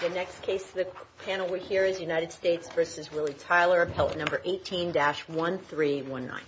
The next case of the panel here is United States v. Willie Tyler, appellate number 18-1319.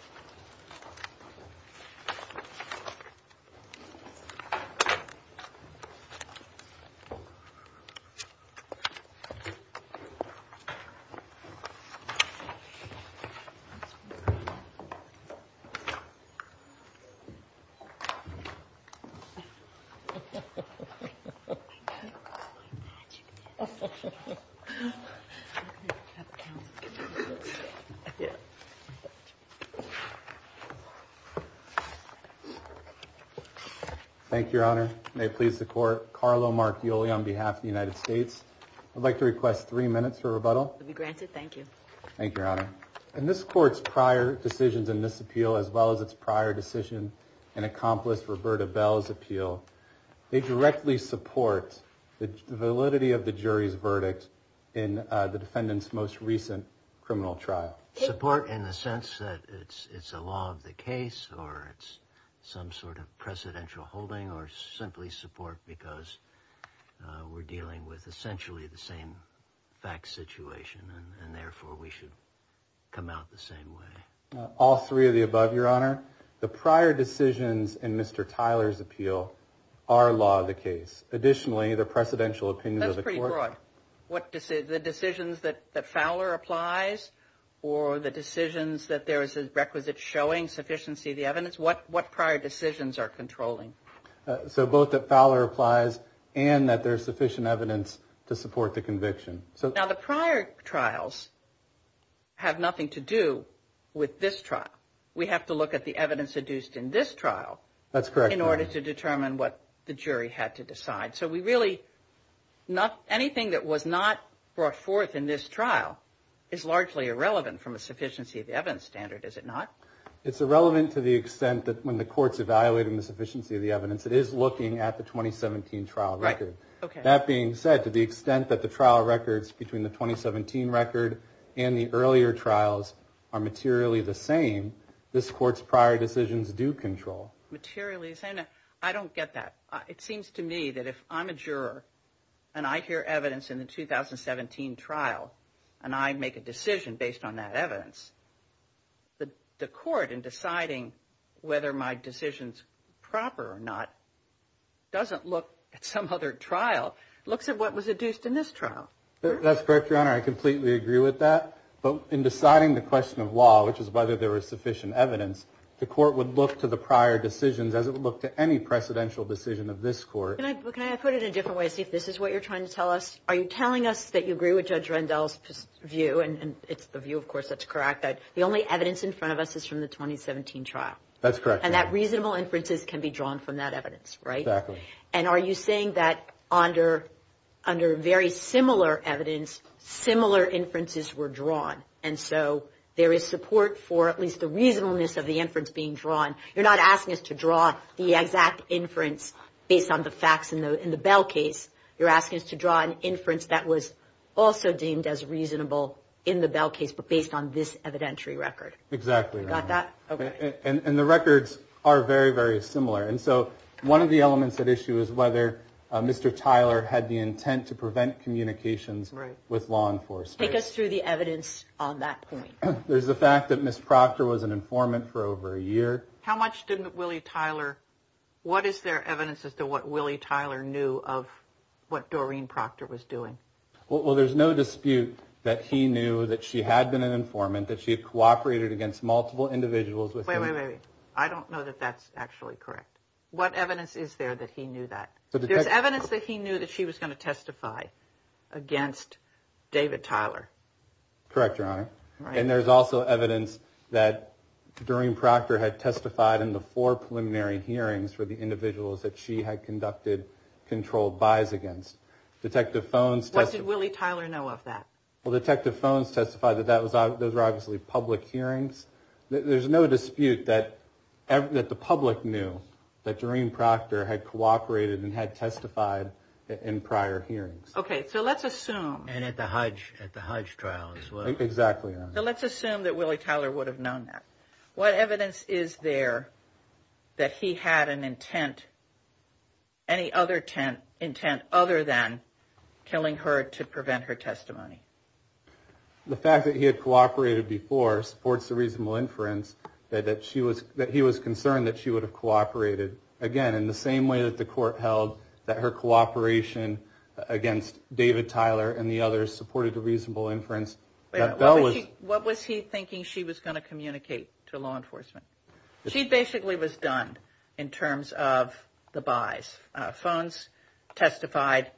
This court's prior decisions in this appeal, as well as its prior decision in Accomplice Roberta Bell's appeal, they directly support the validity of the jury's verdict in the defendant's most recent criminal trial. Support in the sense that it's a law of the case, or it's some sort of precedential holding, or simply support because we're dealing with essentially the same fact situation, and therefore we should come out the same way. All three of the above, Your Honor. The prior decisions in Mr. Tyler's appeal are law of the case. Additionally, the precedential opinion of the court- That's pretty broad. What decisions, the decisions that Fowler applies, or the decisions that there is a requisite showing sufficiency of the evidence, what prior decisions are controlling? So both that Fowler applies and that there's sufficient evidence to support the conviction. Now, the prior trials have nothing to do with this trial. We have to look at the evidence adduced in this trial in order to determine what the jury had to decide. So we really, anything that was not brought forth in this trial is largely irrelevant from a sufficiency of the evidence standard, is it not? It's irrelevant to the extent that when the court's evaluating the sufficiency of the evidence, it is looking at the 2017 trial record. That being said, to the extent that the trial records between the 2017 record and the earlier trials are materially the same, this court's prior decisions do control. Materially the same? I don't get that. It seems to me that if I'm a juror and I hear evidence in the 2017 trial and I make a decision based on that evidence, the court in deciding whether my decision's proper or not doesn't look at some other trial, looks at what was adduced in this trial. That's correct, Your Honor. I completely agree with that. But in deciding the question of law, which is whether there was sufficient evidence, the court would look to the prior decisions as it would look to any precedential decision of this court. Can I put it in a different way, see if this is what you're trying to tell us? Are you telling us that you agree with Judge Rendell's view, and it's the view of course that's correct, that the only evidence in front of us is from the 2017 trial? That's correct. And that reasonable inferences can be drawn from that evidence, right? Exactly. And are you saying that under very similar evidence, similar inferences were drawn, and so there is support for at least the reasonableness of the inference being drawn? You're not asking us to draw the exact inference based on the facts in the Bell case. You're asking us to draw an inference that was also deemed as reasonable in the Bell case, but based on this evidentiary record. Exactly, Your Honor. Got that? Okay. And the records are very, very similar. And so one of the elements at issue is whether Mr. Tyler had the intent to prevent communications with law enforcement. Take us through the evidence on that point. There's the fact that Ms. Proctor was an informant for over a year. How much did Willie Tyler, what is there evidence as to what Willie Tyler knew of what Doreen Proctor was doing? Well, there's no dispute that he knew that she had been an informant, that she had cooperated against multiple individuals with him. Wait, wait, wait. I don't know that that's actually correct. What evidence is there that he knew that? There's evidence that he knew that she was going to testify against David Tyler. Correct, Your Honor. And there's also evidence that Doreen Proctor had testified in the four preliminary hearings for the individuals that she had conducted controlled buys against. Detective Phones testified... What did Willie Tyler know of that? Well, Detective Phones testified that those were obviously public hearings. There's no dispute that the public knew that Doreen Proctor had cooperated and had testified in prior hearings. Okay, so let's assume... And at the Hudge trial as well. Exactly, Your Honor. So let's assume that Willie Tyler would have known that. What evidence is there that he had an intent, any other intent other than killing her to prevent her testimony? The fact that he had cooperated before supports the reasonable inference that he was concerned that she would have cooperated, again, in the same way that the court held that her cooperation against David Tyler and the others supported the reasonable inference that Bell was... What was he thinking she was going to communicate to law enforcement? She basically was done in terms of the buys. Phones testified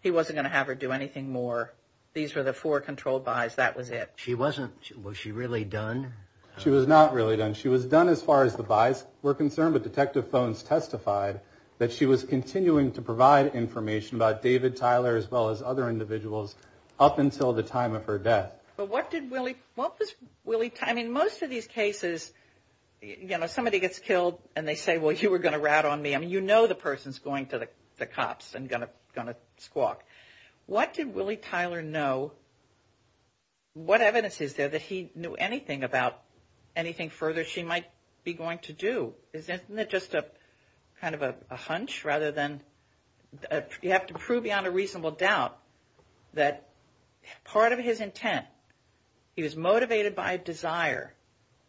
he wasn't going to have her do anything more. These were the four controlled buys. That was it. She wasn't... Was she really done? She was not really done. She was done as far as the buys were concerned, but Detective Phones testified that she was continuing to provide information about David Tyler as well as other individuals up until the time of her death. But what did Willie... What was Willie... I mean, most of these cases, you know, somebody gets killed and they say, well, you were going to rat on me. I mean, you know the person's going to the cops and going to squawk. What did Willie Tyler know? What evidence is there that he knew anything about anything further she might be going to do? Isn't it just a kind of a hunch rather than... You have to prove beyond a reasonable doubt that part of his intent, he was motivated by a desire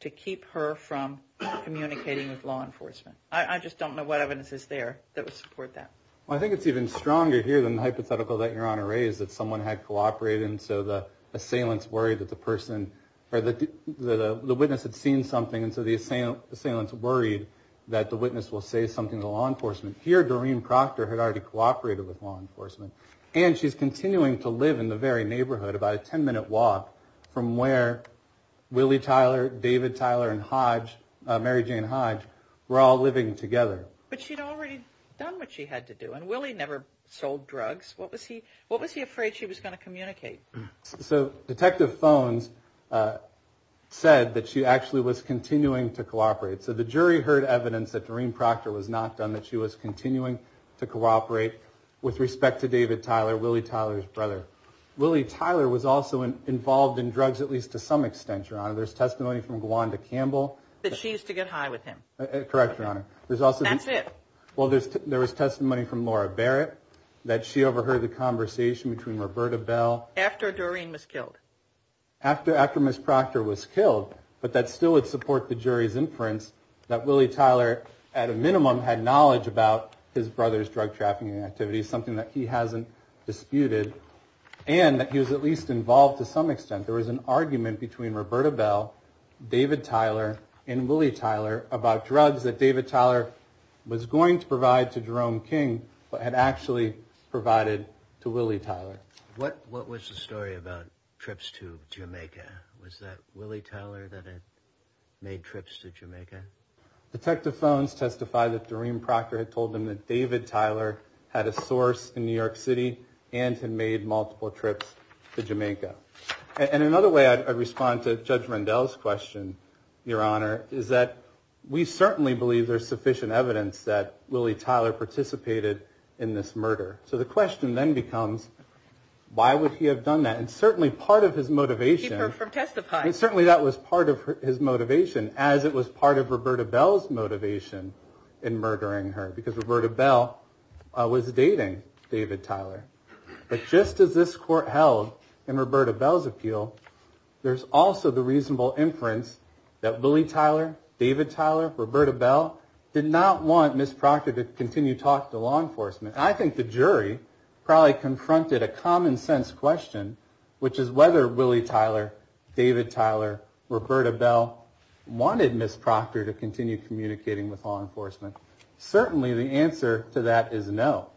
to keep her from communicating with law enforcement. I just don't know what evidence is there that would support that. I think it's even stronger here than the hypothetical that Your Honor raised that someone had cooperated and so the assailant's worried that the person or the witness had seen something and so the assailant's worried that the witness will say something to law enforcement. Here Doreen Proctor had already cooperated with law enforcement and she's continuing to live in the very neighborhood, about a 10 minute walk from where Willie Tyler, David Tyler and Mary Jane Hodge were all living together. But she'd already done what she had to do and Willie never sold drugs. What was he afraid she was going to communicate? So Detective Phones said that she actually was continuing to cooperate. So the jury heard evidence that Doreen Proctor was not done, that she was continuing to cooperate with respect to David Tyler, Willie Tyler's brother. Willie Tyler was also involved in drugs at least to some extent, Your Honor. There's testimony from Gwanda Campbell. That she used to get high with him. Correct, Your Honor. That's it. Well, there was testimony from Laura Barrett that she overheard the conversation between Roberta Bell. After Doreen was killed. After Miss Proctor was killed, but that still would support the jury's inference that Willie Tyler, at a minimum, had knowledge about his brother's drug trafficking activities, something that he hasn't disputed. And that he was at least involved to some extent. There was an argument between Roberta Bell, David Tyler, and Willie Tyler about drugs that David Tyler was going to provide to Jerome King, but had actually provided to Willie Tyler. What was the story about trips to Jamaica? Was that Willie Tyler that had made trips to Jamaica? Detective Phones testified that Doreen Proctor had told them that David Tyler had a source in New York City and had made multiple trips to Jamaica. And another way I'd respond to Judge Rendell's question, Your Honor, is that we certainly believe there's sufficient evidence that Willie Tyler participated in this murder. So the question then becomes, why would he have done that? And certainly part of his motivation. Keep her from testifying. Certainly that was part of his motivation, as it was part of Roberta Bell's motivation in murdering her, because Roberta Bell was dating David Tyler. But just as this court held in Roberta Bell's appeal, there's also the reasonable inference that Willie Tyler, David Tyler, Roberta Bell did not want Ms. Proctor to continue talk to law enforcement. I think the jury probably confronted a common sense question, which is whether Willie Tyler, David Tyler, Roberta Bell wanted Ms. Proctor to continue communicating with law enforcement. Certainly the answer to that is no.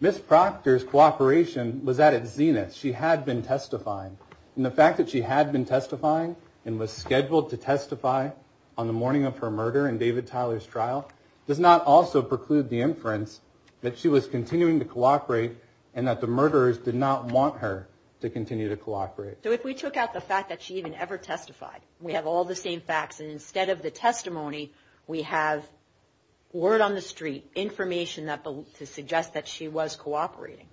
Ms. Proctor's cooperation was at its zenith. She had been testifying. And the fact that she had been testifying and was scheduled to testify on the morning of her murder in David Tyler's trial does not also preclude the inference that she was continuing to cooperate and that the murderers did not want her to continue to cooperate. So if we took out the fact that she even ever testified, we have all the same facts. And instead of the testimony, we have word on the street, information to suggest that she was cooperating.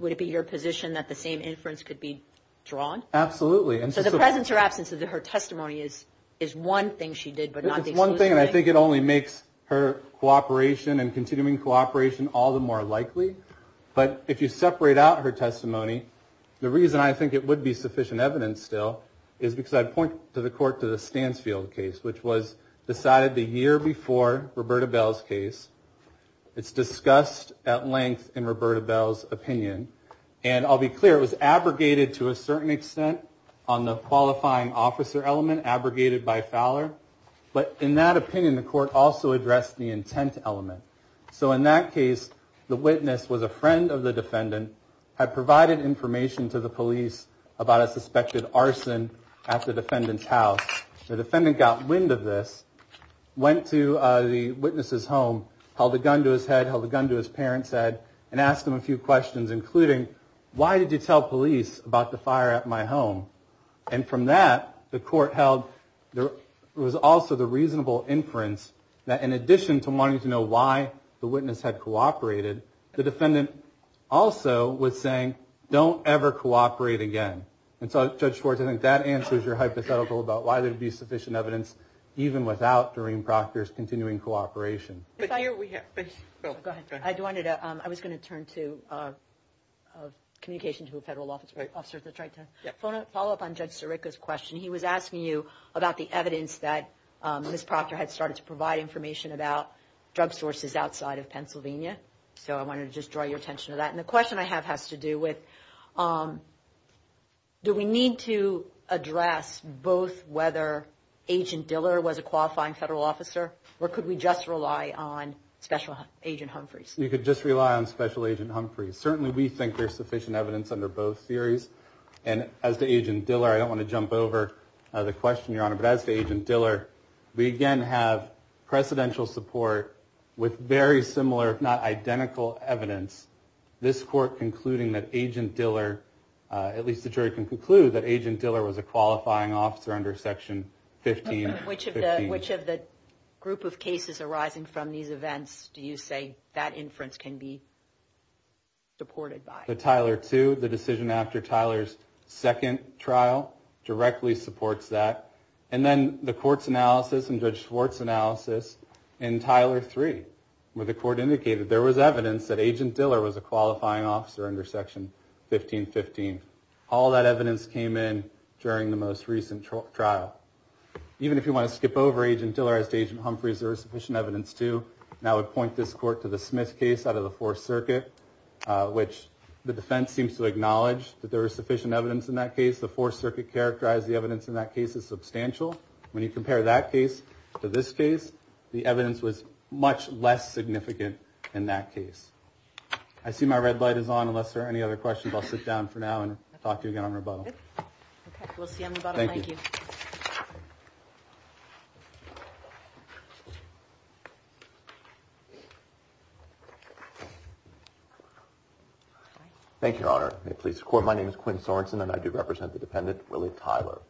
Would it be your position that the same inference could be drawn? Absolutely. And so the presence or absence of her testimony is one thing she did, but not the exclusive thing. It's one thing. And I think it only makes her cooperation and continuing cooperation all the more likely. But if you separate out her testimony, the reason I think it would be sufficient evidence still is because I point to the court, to the Stansfield case, which was decided the year before Roberta Bell's case. It's discussed at length in Roberta Bell's opinion. And I'll be clear, it was abrogated to a certain extent on the qualifying officer element, abrogated by Fowler. But in that opinion, the court also addressed the intent element. So in that case, the witness was a friend of the defendant, had provided information to the police about a suspected arson at the defendant's house. The defendant got wind of this, went to the witness's home, held a gun to his head, held a gun to his parents' head, and asked him a few questions, including, why did you tell police about the fire at my home? And from that, the court held there was also the reasonable inference that in addition to wanting to know why the witness had cooperated, the defendant also was saying, don't ever cooperate again. And so Judge Schwartz, I think that answers your hypothetical about why there would be sufficient evidence, even without Doreen Proctor's continuing cooperation. But here we have, please, go ahead. I wanted to, I was going to turn to communication to a federal officer to try to follow up on Judge Sirica's question. He was asking you about the evidence that Ms. Proctor had started to provide information about drug sources outside of Pennsylvania. So I wanted to just draw your attention to that. And the question I have has to do with, do we need to address both whether Agent Diller was a qualifying federal officer, or could we just rely on Special Agent Humphreys? You could just rely on Special Agent Humphreys. Certainly, we think there's sufficient evidence under both theories. And as to Agent Diller, I don't want to jump over the question, Your Honor, but as to Agent Diller, we again have precedential support with very similar, if not identical, evidence. This court concluding that Agent Diller, at least the jury can conclude, that Agent Diller was a qualifying officer under Section 1515. Which of the group of cases arising from these events do you say that inference can be supported by? The Tyler 2, the decision after Tyler's second trial, directly supports that. And then the court's analysis and Judge Schwartz' analysis in Tyler 3, where the court indicated there was evidence that Agent Diller was a qualifying officer under Section 1515. All that evidence came in during the most recent trial. Even if you want to skip over Agent Diller, as to Agent Humphreys, there is sufficient evidence to. And I would point this court to the Smith case out of the Fourth Circuit, which the defense seems to acknowledge that there is sufficient evidence in that case. The Fourth Circuit characterized the evidence in that case as substantial. When you compare that case to this case, the evidence was much less significant in that case. I see my red light is on, unless there are any other questions. I'll sit down for now and talk to you again on rebuttal. OK, we'll see you on rebuttal. Thank you. Thank you, Your Honor. May it please the court, my name is Quinn Sorensen, and I do represent the dependent, Willie Tyler.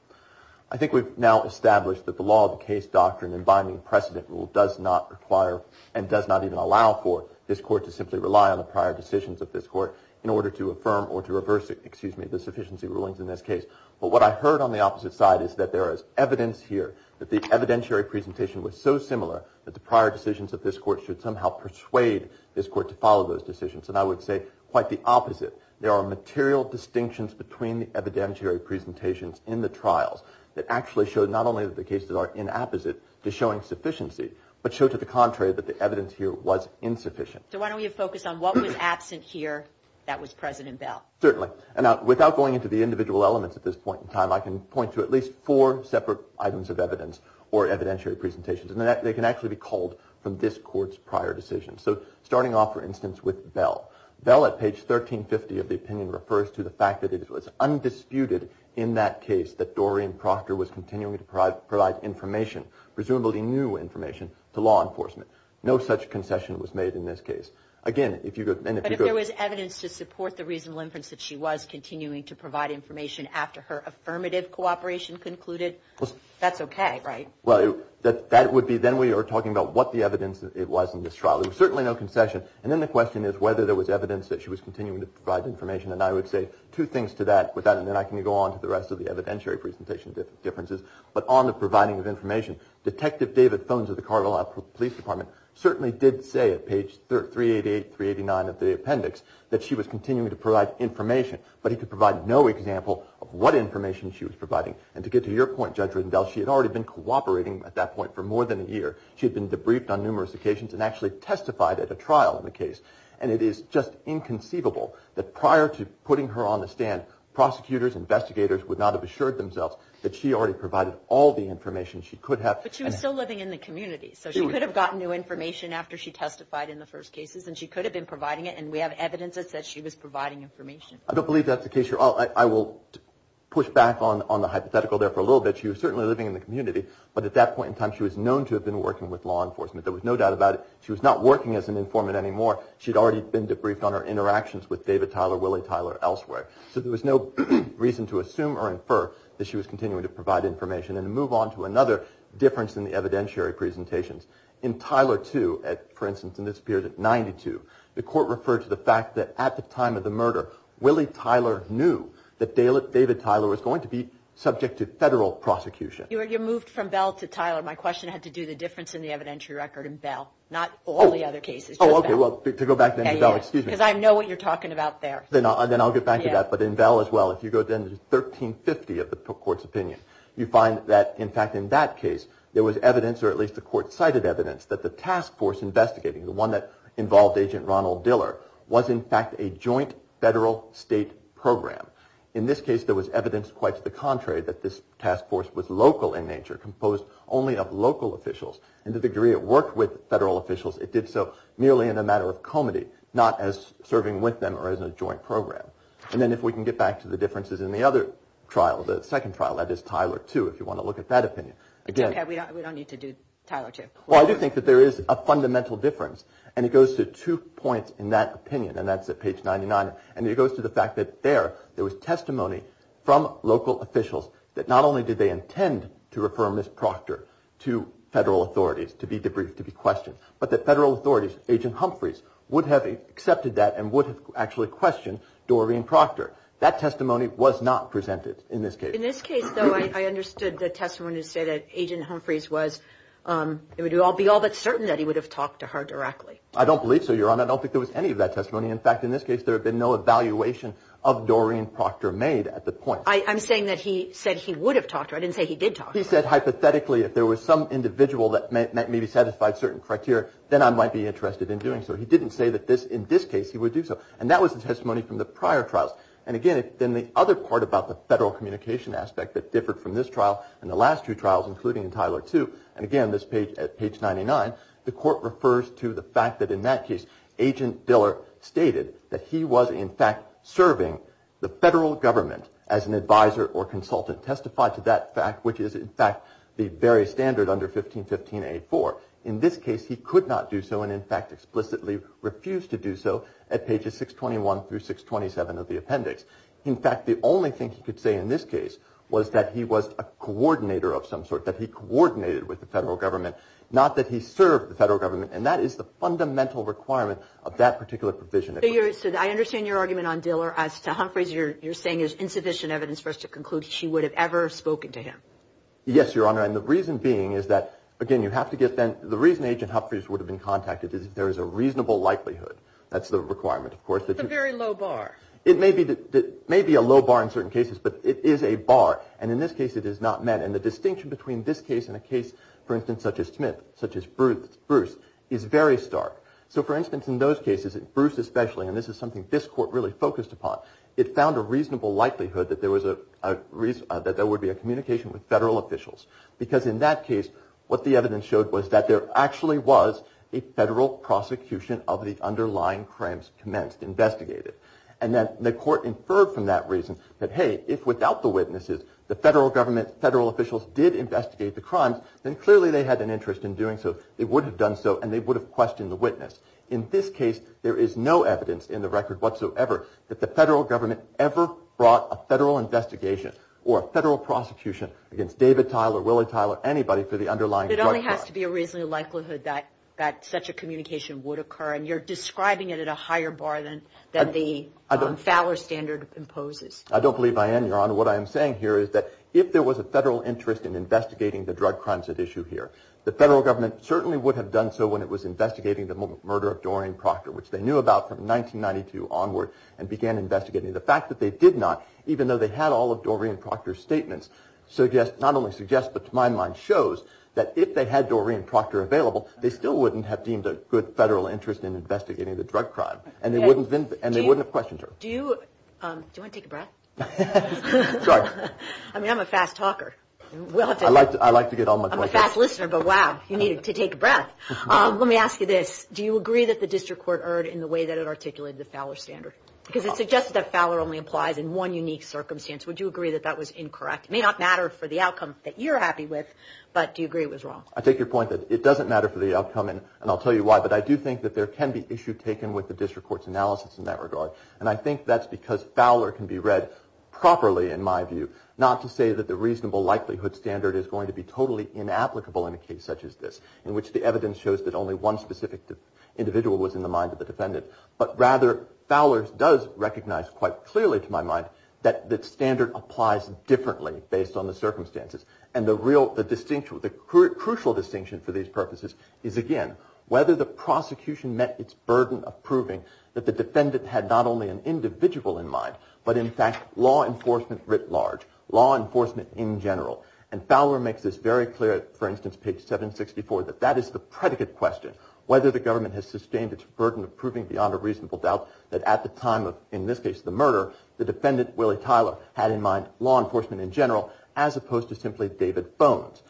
I think we've now established that the law of the case doctrine and binding precedent rule does not require and does not even allow for this court to simply rely on the prior decisions of this court in order to affirm or to reverse it, excuse me, the sufficiency rulings in this case. But what I heard on the opposite side is that there is evidence here that the evidentiary presentation was so similar that the prior decisions of this court should somehow persuade this court to follow those decisions. And I would say quite the opposite. There are material distinctions between the evidentiary presentations in the trials that actually show not only that the cases are in apposite to showing sufficiency, but show to the contrary that the evidence here was insufficient. So why don't we focus on what was absent here that was present in Bell? Certainly. And without going into the individual elements at this point in time, I can point to at least four separate items of evidence or evidentiary presentations, and they can actually be called from this court's prior decisions. So starting off, for instance, with Bell. Bell at page 1350 of the opinion refers to the fact that it was undisputed in that case that Doreen Proctor was continuing to provide information, presumably new information, to law enforcement. No such concession was made in this case. Again, if you go- But if there was evidence to support the reasonable inference that she was continuing to provide information after her affirmative cooperation concluded, that's okay, right? Well, that would be, then we are talking about what the evidence it was in this trial. There was certainly no concession, and then the question is whether there was evidence that she was continuing to provide information. And I would say two things to that, with that, and then I can go on to the rest of the evidentiary presentation differences. But on the providing of information, Detective David Phones of the Colorado Police Department certainly did say at page 388, 389 of the appendix, that she was continuing to provide information. But he could provide no example of what information she was providing. And to get to your point, Judge Riddendell, she had already been cooperating at that point for more than a year. She had been debriefed on numerous occasions and actually testified at a trial in the case. And it is just inconceivable that prior to putting her on the stand, prosecutors, investigators would not have assured themselves that she already provided all the information she could have. But she was still living in the community, so she could have gotten new information after she testified in the first cases. And she could have been providing it, and we have evidence that says she was providing information. I don't believe that's the case here. I will push back on the hypothetical there for a little bit. She was certainly living in the community, but at that point in time, she was known to have been working with law enforcement. There was no doubt about it. She was not working as an informant anymore. She'd already been debriefed on her interactions with David Tyler, Willie Tyler, elsewhere. So there was no reason to assume or infer that she was continuing to provide information. And to move on to another difference in the evidentiary presentations, in Tyler 2, for instance, in this period at 92, the court referred to the fact that at the time of the murder, Willie Tyler knew that David Tyler was going to be subject to federal prosecution. You moved from Bell to Tyler. My question had to do the difference in the evidentiary record in Bell, not all the other cases. Oh, okay. Well, to go back to Bell, excuse me. Because I know what you're talking about there. Then I'll get back to that. But in Bell as well, if you go to 1350 of the court's opinion, you find that, in fact, in that case, there was evidence, or at least the court cited evidence, that the task force investigating, the one that involved Agent Ronald Diller, was in fact a joint federal state program. In this case, there was evidence quite to the contrary, that this task force was local in nature, composed only of local officials. And the degree it worked with federal officials, it did so merely in a matter of comity, not as serving with them or as a joint program. And then if we can get back to the differences in the other trial, the second trial, that is Tyler II, if you want to look at that opinion. Okay, we don't need to do Tyler II. Well, I do think that there is a fundamental difference. And it goes to two points in that opinion. And that's at page 99. And it goes to the fact that there, there was testimony from local officials that not only did they intend to refer Ms. Proctor to federal authorities to be debriefed, to be questioned, but that federal authorities, Agent Humphreys, would have accepted that and would have actually questioned Doreen Proctor. That testimony was not presented in this case. In this case, though, I understood the testimony to say that Agent Humphreys was, it would be all but certain that he would have talked to her directly. I don't believe so, Your Honor. I don't think there was any of that testimony. In fact, in this case, there had been no evaluation of Doreen Proctor made at the point. I'm saying that he said he would have talked to her. I didn't say he did talk to her. He said, hypothetically, if there was some individual that maybe satisfied certain criteria, then I might be interested in doing so. He didn't say that this, in this case, he would do so. And that was the testimony from the prior trials. And again, then the other part about the federal communication aspect that differed from this trial and the last two trials, including in Tyler II, and again, this page, at page 99, the court refers to the fact that in that case, Agent Diller stated that he was, in fact, serving the federal government as an advisor or consultant testified to that fact, which is, in fact, the very standard under 1515-84. In this case, he could not do so and, in fact, explicitly refused to do so at pages 621 through 627 of the appendix. In fact, the only thing he could say in this case was that he was a coordinator of some sort, that he coordinated with the federal government, not that he served the federal government. And that is the fundamental requirement of that particular provision. So I understand your argument on Diller as to Humphreys. You're saying there's insufficient evidence for us to conclude she would have ever spoken to him. Yes, Your Honor. And the reason being is that, again, you have to get then, the reason Agent Humphreys would have been contacted is if there is a reasonable likelihood. That's the requirement, of course. It's a very low bar. It may be a low bar in certain cases, but it is a bar. And in this case, it is not met. And the distinction between this case and a case, for instance, such as Smith, such as Bruce, is very stark. So, for instance, in those cases, Bruce especially, and this is something this court really focused upon, it found a reasonable likelihood that there would be a communication with federal officials. Because in that case, what the evidence showed was that there actually was a federal prosecution of the underlying crimes commenced, investigated. And then the court inferred from that reason that, hey, if without the witnesses, the federal government, federal officials did investigate the crimes, then clearly they had an interest in doing so. They would have done so, and they would have questioned the witness. In this case, there is no evidence in the record whatsoever that the federal government ever brought a federal investigation or a federal prosecution against David Tyler, Willie Tyler, anybody for the underlying drug crime. It only has to be a reasonable likelihood that such a communication would occur, and you're describing it at a higher bar than the Fowler standard imposes. I don't believe I am, Your Honor. What I am saying here is that if there was a federal interest in investigating the drug crimes at issue here, the federal government certainly would have done so when it was investigating the murder of Doreen Proctor, which they knew about from 1992 onward and began investigating. The fact that they did not, even though they had all of Doreen Proctor's statements, not only suggests but to my mind shows that if they had Doreen Proctor available, they still wouldn't have deemed a good federal interest in investigating the drug crime, and they wouldn't have questioned her. Do you want to take a breath? Sorry. I mean, I'm a fast talker. I like to get all my points. I'm a fast listener, but wow, you needed to take a breath. Let me ask you this. Do you agree that the district court erred in the way that it articulated the Fowler standard? Because it suggested that Fowler only applies in one unique circumstance. Would you agree that that was incorrect? It may not matter for the outcome that you're happy with, but do you agree it was wrong? I take your point that it doesn't matter for the outcome, and I'll tell you why, but I do think that there can be issue taken with the district court's analysis in that regard, and I think that's because Fowler can be read properly, in my view, not to say that the reasonable likelihood standard is going to be totally inapplicable in a case such as this, in which the evidence shows that only one specific individual was in the mind of the defendant, but rather, Fowler does recognize quite clearly to my mind that the standard applies differently based on the circumstances, and the real, the distinction, the crucial distinction for these purposes is, again, whether the prosecution met its burden of proving that the defendant had not only an individual in mind, but in fact, law enforcement writ large, law enforcement in general, and Fowler makes this very clear, for instance, page 764, that that is the predicate question, whether the government has sustained its burden of proving beyond a reasonable doubt that at the time of, in this case, the murder, the defendant, Willie Tyler, had in mind law enforcement in general, as opposed to simply David Bones.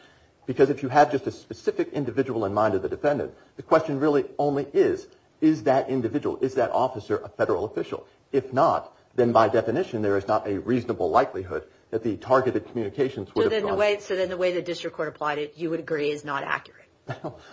Because if you have just a specific individual in mind of the defendant, the question really only is, is that individual, is that officer a federal official? If not, then by definition, there is not a reasonable likelihood that the targeted communications would have gone. So then the way the district court applied it, you would agree, is not accurate.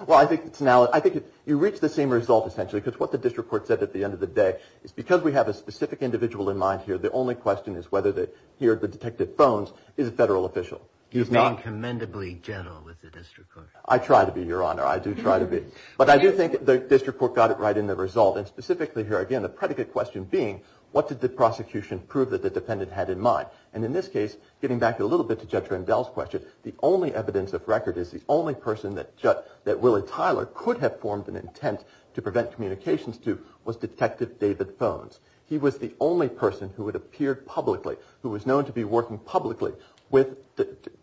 Well, I think it's now, I think you reach the same result, essentially, because what the district court said at the end of the day is because we have a specific individual in mind here, the only question is whether the, here, the detective Bones is a federal official. He's not. He's being commendably gentle with the district court. I try to be, Your Honor, I do try to be. But I do think the district court got it right in the result, and specifically here, again, the predicate question being, what did the prosecution prove that the defendant had in mind? And in this case, getting back a little bit to Judge Randall's question, the only evidence of record is the only person that Willie Tyler could have formed an intent to prevent communications to was Detective David Bones. He was the only person who had appeared publicly, who was known to be working publicly with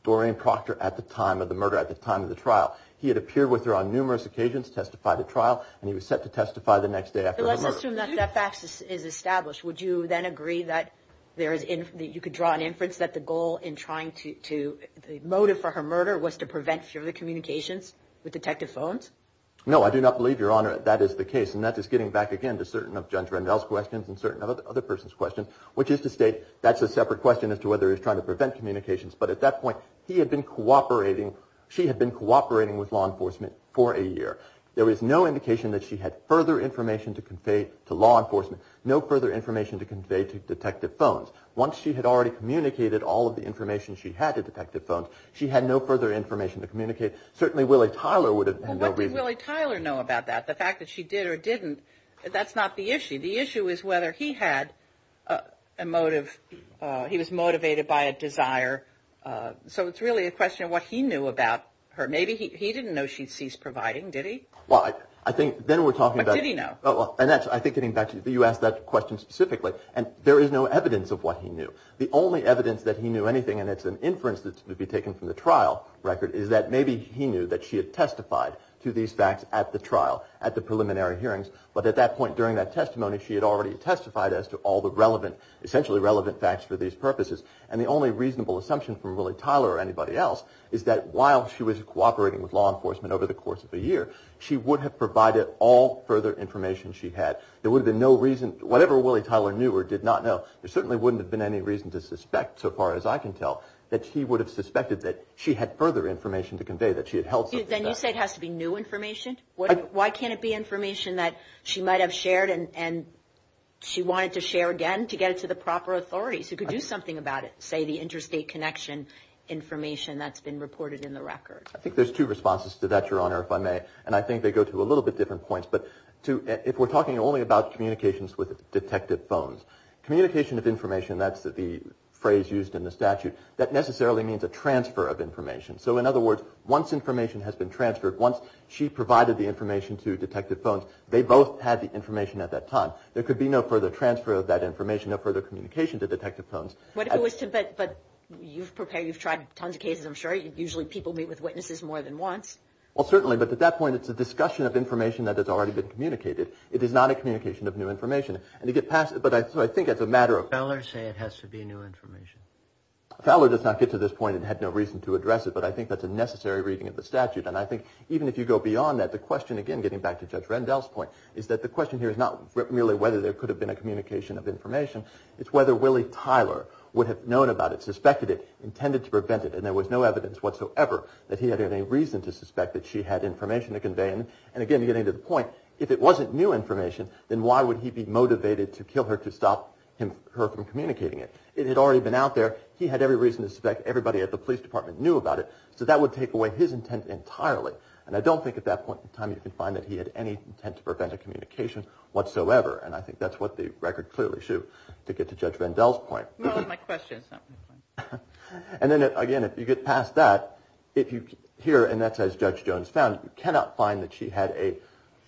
Doreen Proctor at the time of the murder, at the time of the trial. He had appeared with her on numerous occasions, testified at trial, and he was set to testify the next day after her murder. But let's assume that that fact is established. Would you then agree that there is, that you could draw an inference that the goal in trying to, the motive for her murder was to prevent further communications with Detective Bones? No, I do not believe, Your Honor, that that is the case. And that is getting back, again, to certain of Judge Randall's questions and certain of the other person's questions, which is to state that's a separate question as to whether he was trying to prevent communications. But at that point, he had been cooperating, she had been cooperating with law enforcement for a year. There was no indication that she had further information to convey to law enforcement, no further information to convey to Detective Bones. Once she had already communicated all of the information she had to Detective Bones, she had no further information to communicate. Certainly, Willie Tyler would have had no reason. Well, what did Willie Tyler know about that? The fact that she did or didn't, that's not the issue. The issue is whether he had a motive, he was motivated by a desire. So, it's really a question of what he knew about her. Maybe he didn't know she ceased providing, did he? Well, I think then we're talking about... What did he know? And that's, I think, getting back to, you asked that question specifically. And there is no evidence of what he knew. The only evidence that he knew anything, and it's an inference that's to be taken from the trial record, is that maybe he knew that she had testified to these facts at the trial, at the preliminary hearings. But at that point, during that testimony, she had already testified as to all the relevant, essentially relevant facts for these purposes. And the only reasonable assumption from Willie Tyler or anybody else is that while she was cooperating with law enforcement over the course of a year, she would have provided all further information she had. There would have been no reason, whatever Willie Tyler knew or did not know, there certainly wouldn't have been any reason to suspect, so far as I can tell, that she would have suspected that she had further information to convey, that she had held something back. Then you say it has to be new information? Why can't it be information that she might have shared and she wanted to share again to get it to the proper authorities who could do something about it? I would say the interstate connection information that's been reported in the record. I think there's two responses to that, Your Honor, if I may. And I think they go to a little bit different points. But if we're talking only about communications with detective phones, communication of information, that's the phrase used in the statute, that necessarily means a transfer of information. So in other words, once information has been transferred, once she provided the information to detective phones, they both had the information at that time. There could be no further transfer of that information, no further communication to detective phones. But you've prepared, you've tried tons of cases, I'm sure, usually people meet with witnesses more than once. Well, certainly, but at that point, it's a discussion of information that has already been communicated. It is not a communication of new information. And to get past it, but I think it's a matter of... Fowler say it has to be new information? Fowler does not get to this point and had no reason to address it, but I think that's a necessary reading of the statute. And I think even if you go beyond that, the question, again, getting back to Judge Rendell's point, is that the question here is not really whether there could have been a communication of information, it's whether Willie Tyler would have known about it, suspected it, intended to prevent it, and there was no evidence whatsoever that he had any reason to suspect that she had information to convey. And again, getting to the point, if it wasn't new information, then why would he be motivated to kill her to stop her from communicating it? It had already been out there. He had every reason to suspect everybody at the police department knew about it. So that would take away his intent entirely. And I don't think at that point in time you can find that he had any intent to prevent a communication whatsoever. And I think that's what the record clearly should, to get to Judge Rendell's point. And then again, if you get past that, if you hear, and that's as Judge Jones found, you cannot find that she had any,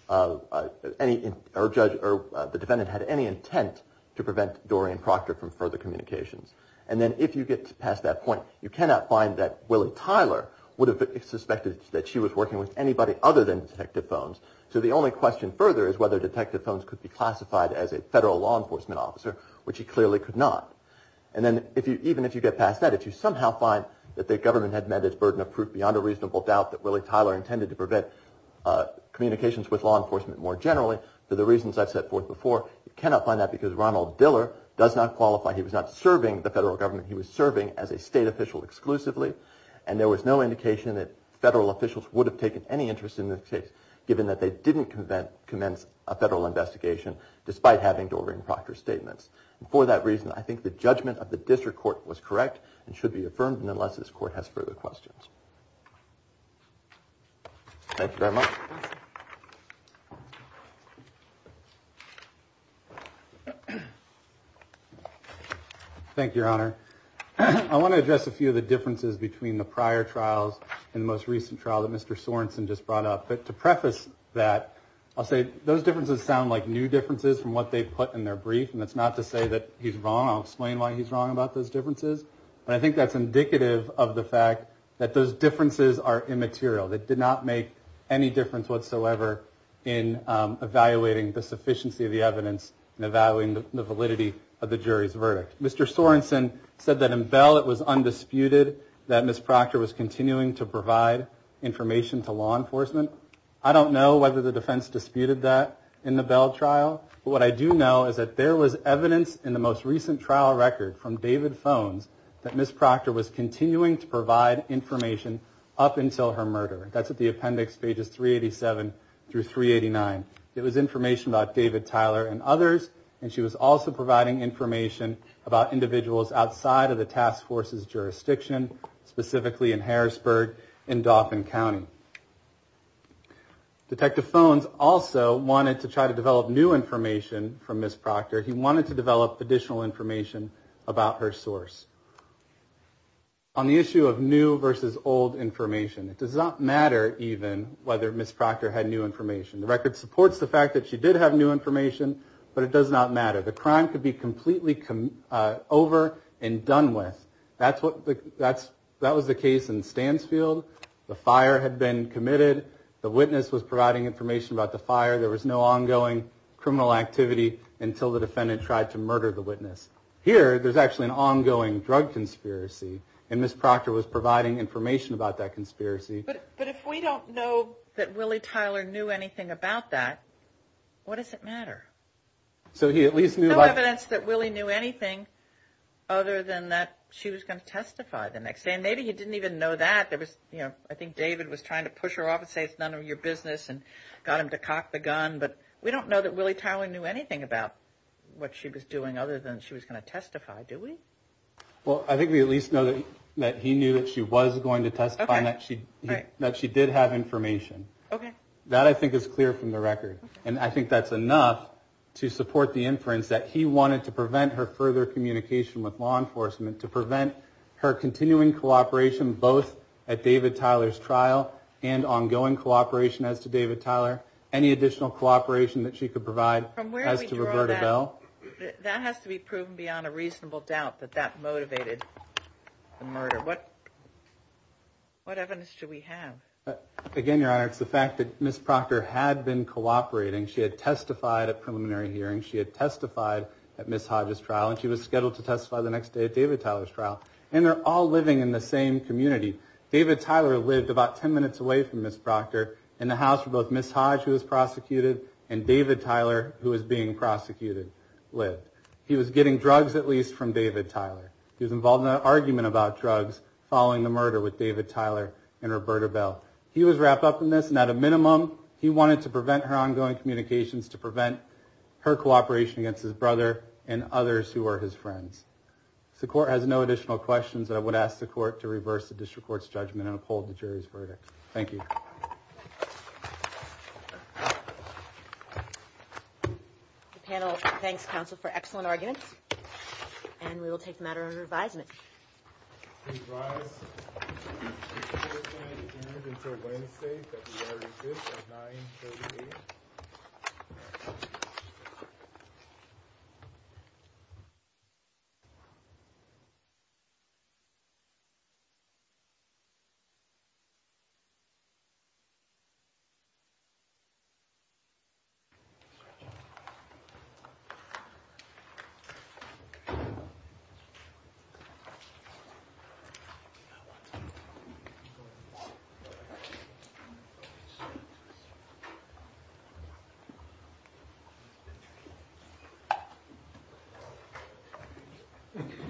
or the defendant had any intent to prevent Dorian Proctor from further communications. And then if you get past that point, you cannot find that Willie Tyler would have suspected that she was working with anybody other than Detective Phones. So the only question further is whether Detective Phones could be classified as a federal law enforcement officer, which he clearly could not. And then even if you get past that, if you somehow find that the government had met its burden of proof beyond a reasonable doubt that Willie Tyler intended to prevent communications with law enforcement more generally, for the reasons I've set forth before, you cannot find that because Ronald Diller does not qualify. He was not serving the federal government. He was serving as a state official exclusively. And there was no indication that federal officials would have taken any interest in the case, given that they didn't commence a federal investigation, despite having Dorian Proctor's statements. And for that reason, I think the judgment of the district court was correct, and should be affirmed, unless this court has further questions. Thank you very much. Thank you, Your Honor. I want to address a few of the differences between the prior trials and the most recent trial that Mr. Sorenson just brought up. But to preface that, I'll say those differences sound like new differences from what they put in their brief. And that's not to say that he's wrong. I'll explain why he's wrong about those differences. But I think that's indicative of the fact that those differences are immaterial. They did not make any difference whatsoever in evaluating the sufficiency of the evidence, and evaluating the validity of the jury's verdict. Mr. Sorenson said that in Bell it was undisputed that Ms. Proctor was continuing to provide information to law enforcement. I don't know whether the defense disputed that in the Bell trial. But what I do know is that there was evidence in the most recent trial record from David Phones that Ms. Proctor was continuing to provide information up until her murder. That's at the appendix pages 387 through 389. It was information about David, Tyler, and others. And she was also providing information about individuals outside of the task force's jurisdiction, specifically in Harrisburg and Dauphin County. Detective Phones also wanted to try to develop new information from Ms. Proctor. He wanted to develop additional information about her source. On the issue of new versus old information, it does not matter even whether Ms. Proctor had new information. The record supports the fact that she did have new information, but it does not matter. The crime could be completely over and done with. That was the case in Stansfield. The fire had been committed. The witness was providing information about the fire. There was no ongoing criminal activity until the defendant tried to murder the witness. Here, there's actually an ongoing drug conspiracy. And Ms. Proctor was providing information about that conspiracy. But if we don't know that Willie Tyler knew anything about that, what does it matter? There's no evidence that Willie knew anything other than that she was going to testify the next day. And maybe he didn't even know that. I think David was trying to push her off and say it's none of your business and got him to cock the gun. But we don't know that Willie Tyler knew anything about what she was doing other than she was going to testify, do we? Well, I think we at least know that he knew that she was going to testify and that she did have information. That, I think, is clear from the record. And I think that's enough to support the inference that he wanted to prevent her further communication with law enforcement, to prevent her continuing cooperation both at David Tyler's trial and ongoing cooperation as to David Tyler, any additional cooperation that she could provide as to Roberta Bell. From where do we draw that? That has to be proven beyond a reasonable doubt that that motivated the murder. What evidence do we have? Again, Your Honor, it's the fact that Ms. Proctor had been cooperating. She had testified at preliminary hearings. She had testified at Ms. Hodge's trial. And she was scheduled to testify the next day at David Tyler's trial. And they're all living in the same community. David Tyler lived about 10 minutes away from Ms. Proctor in the house where both Ms. Hodge, who was prosecuted, and David Tyler, who was being prosecuted, lived. He was getting drugs, at least, from David Tyler. He was involved in an argument about drugs following the murder with David Tyler and Roberta Bell. He was wrapped up in this. And at a minimum, he wanted to prevent her ongoing communications, to prevent her cooperation against his brother and others who were his friends. If the court has no additional questions, I would ask the court to reverse the district court's judgment and uphold the jury's verdict. Thank you. Thank you. The panel thanks counsel for excellent arguments. And we will take the matter under advisement. Please rise. The hearing is adjourned until Wednesday, February 5th at 9.38. Thank you. Thank you.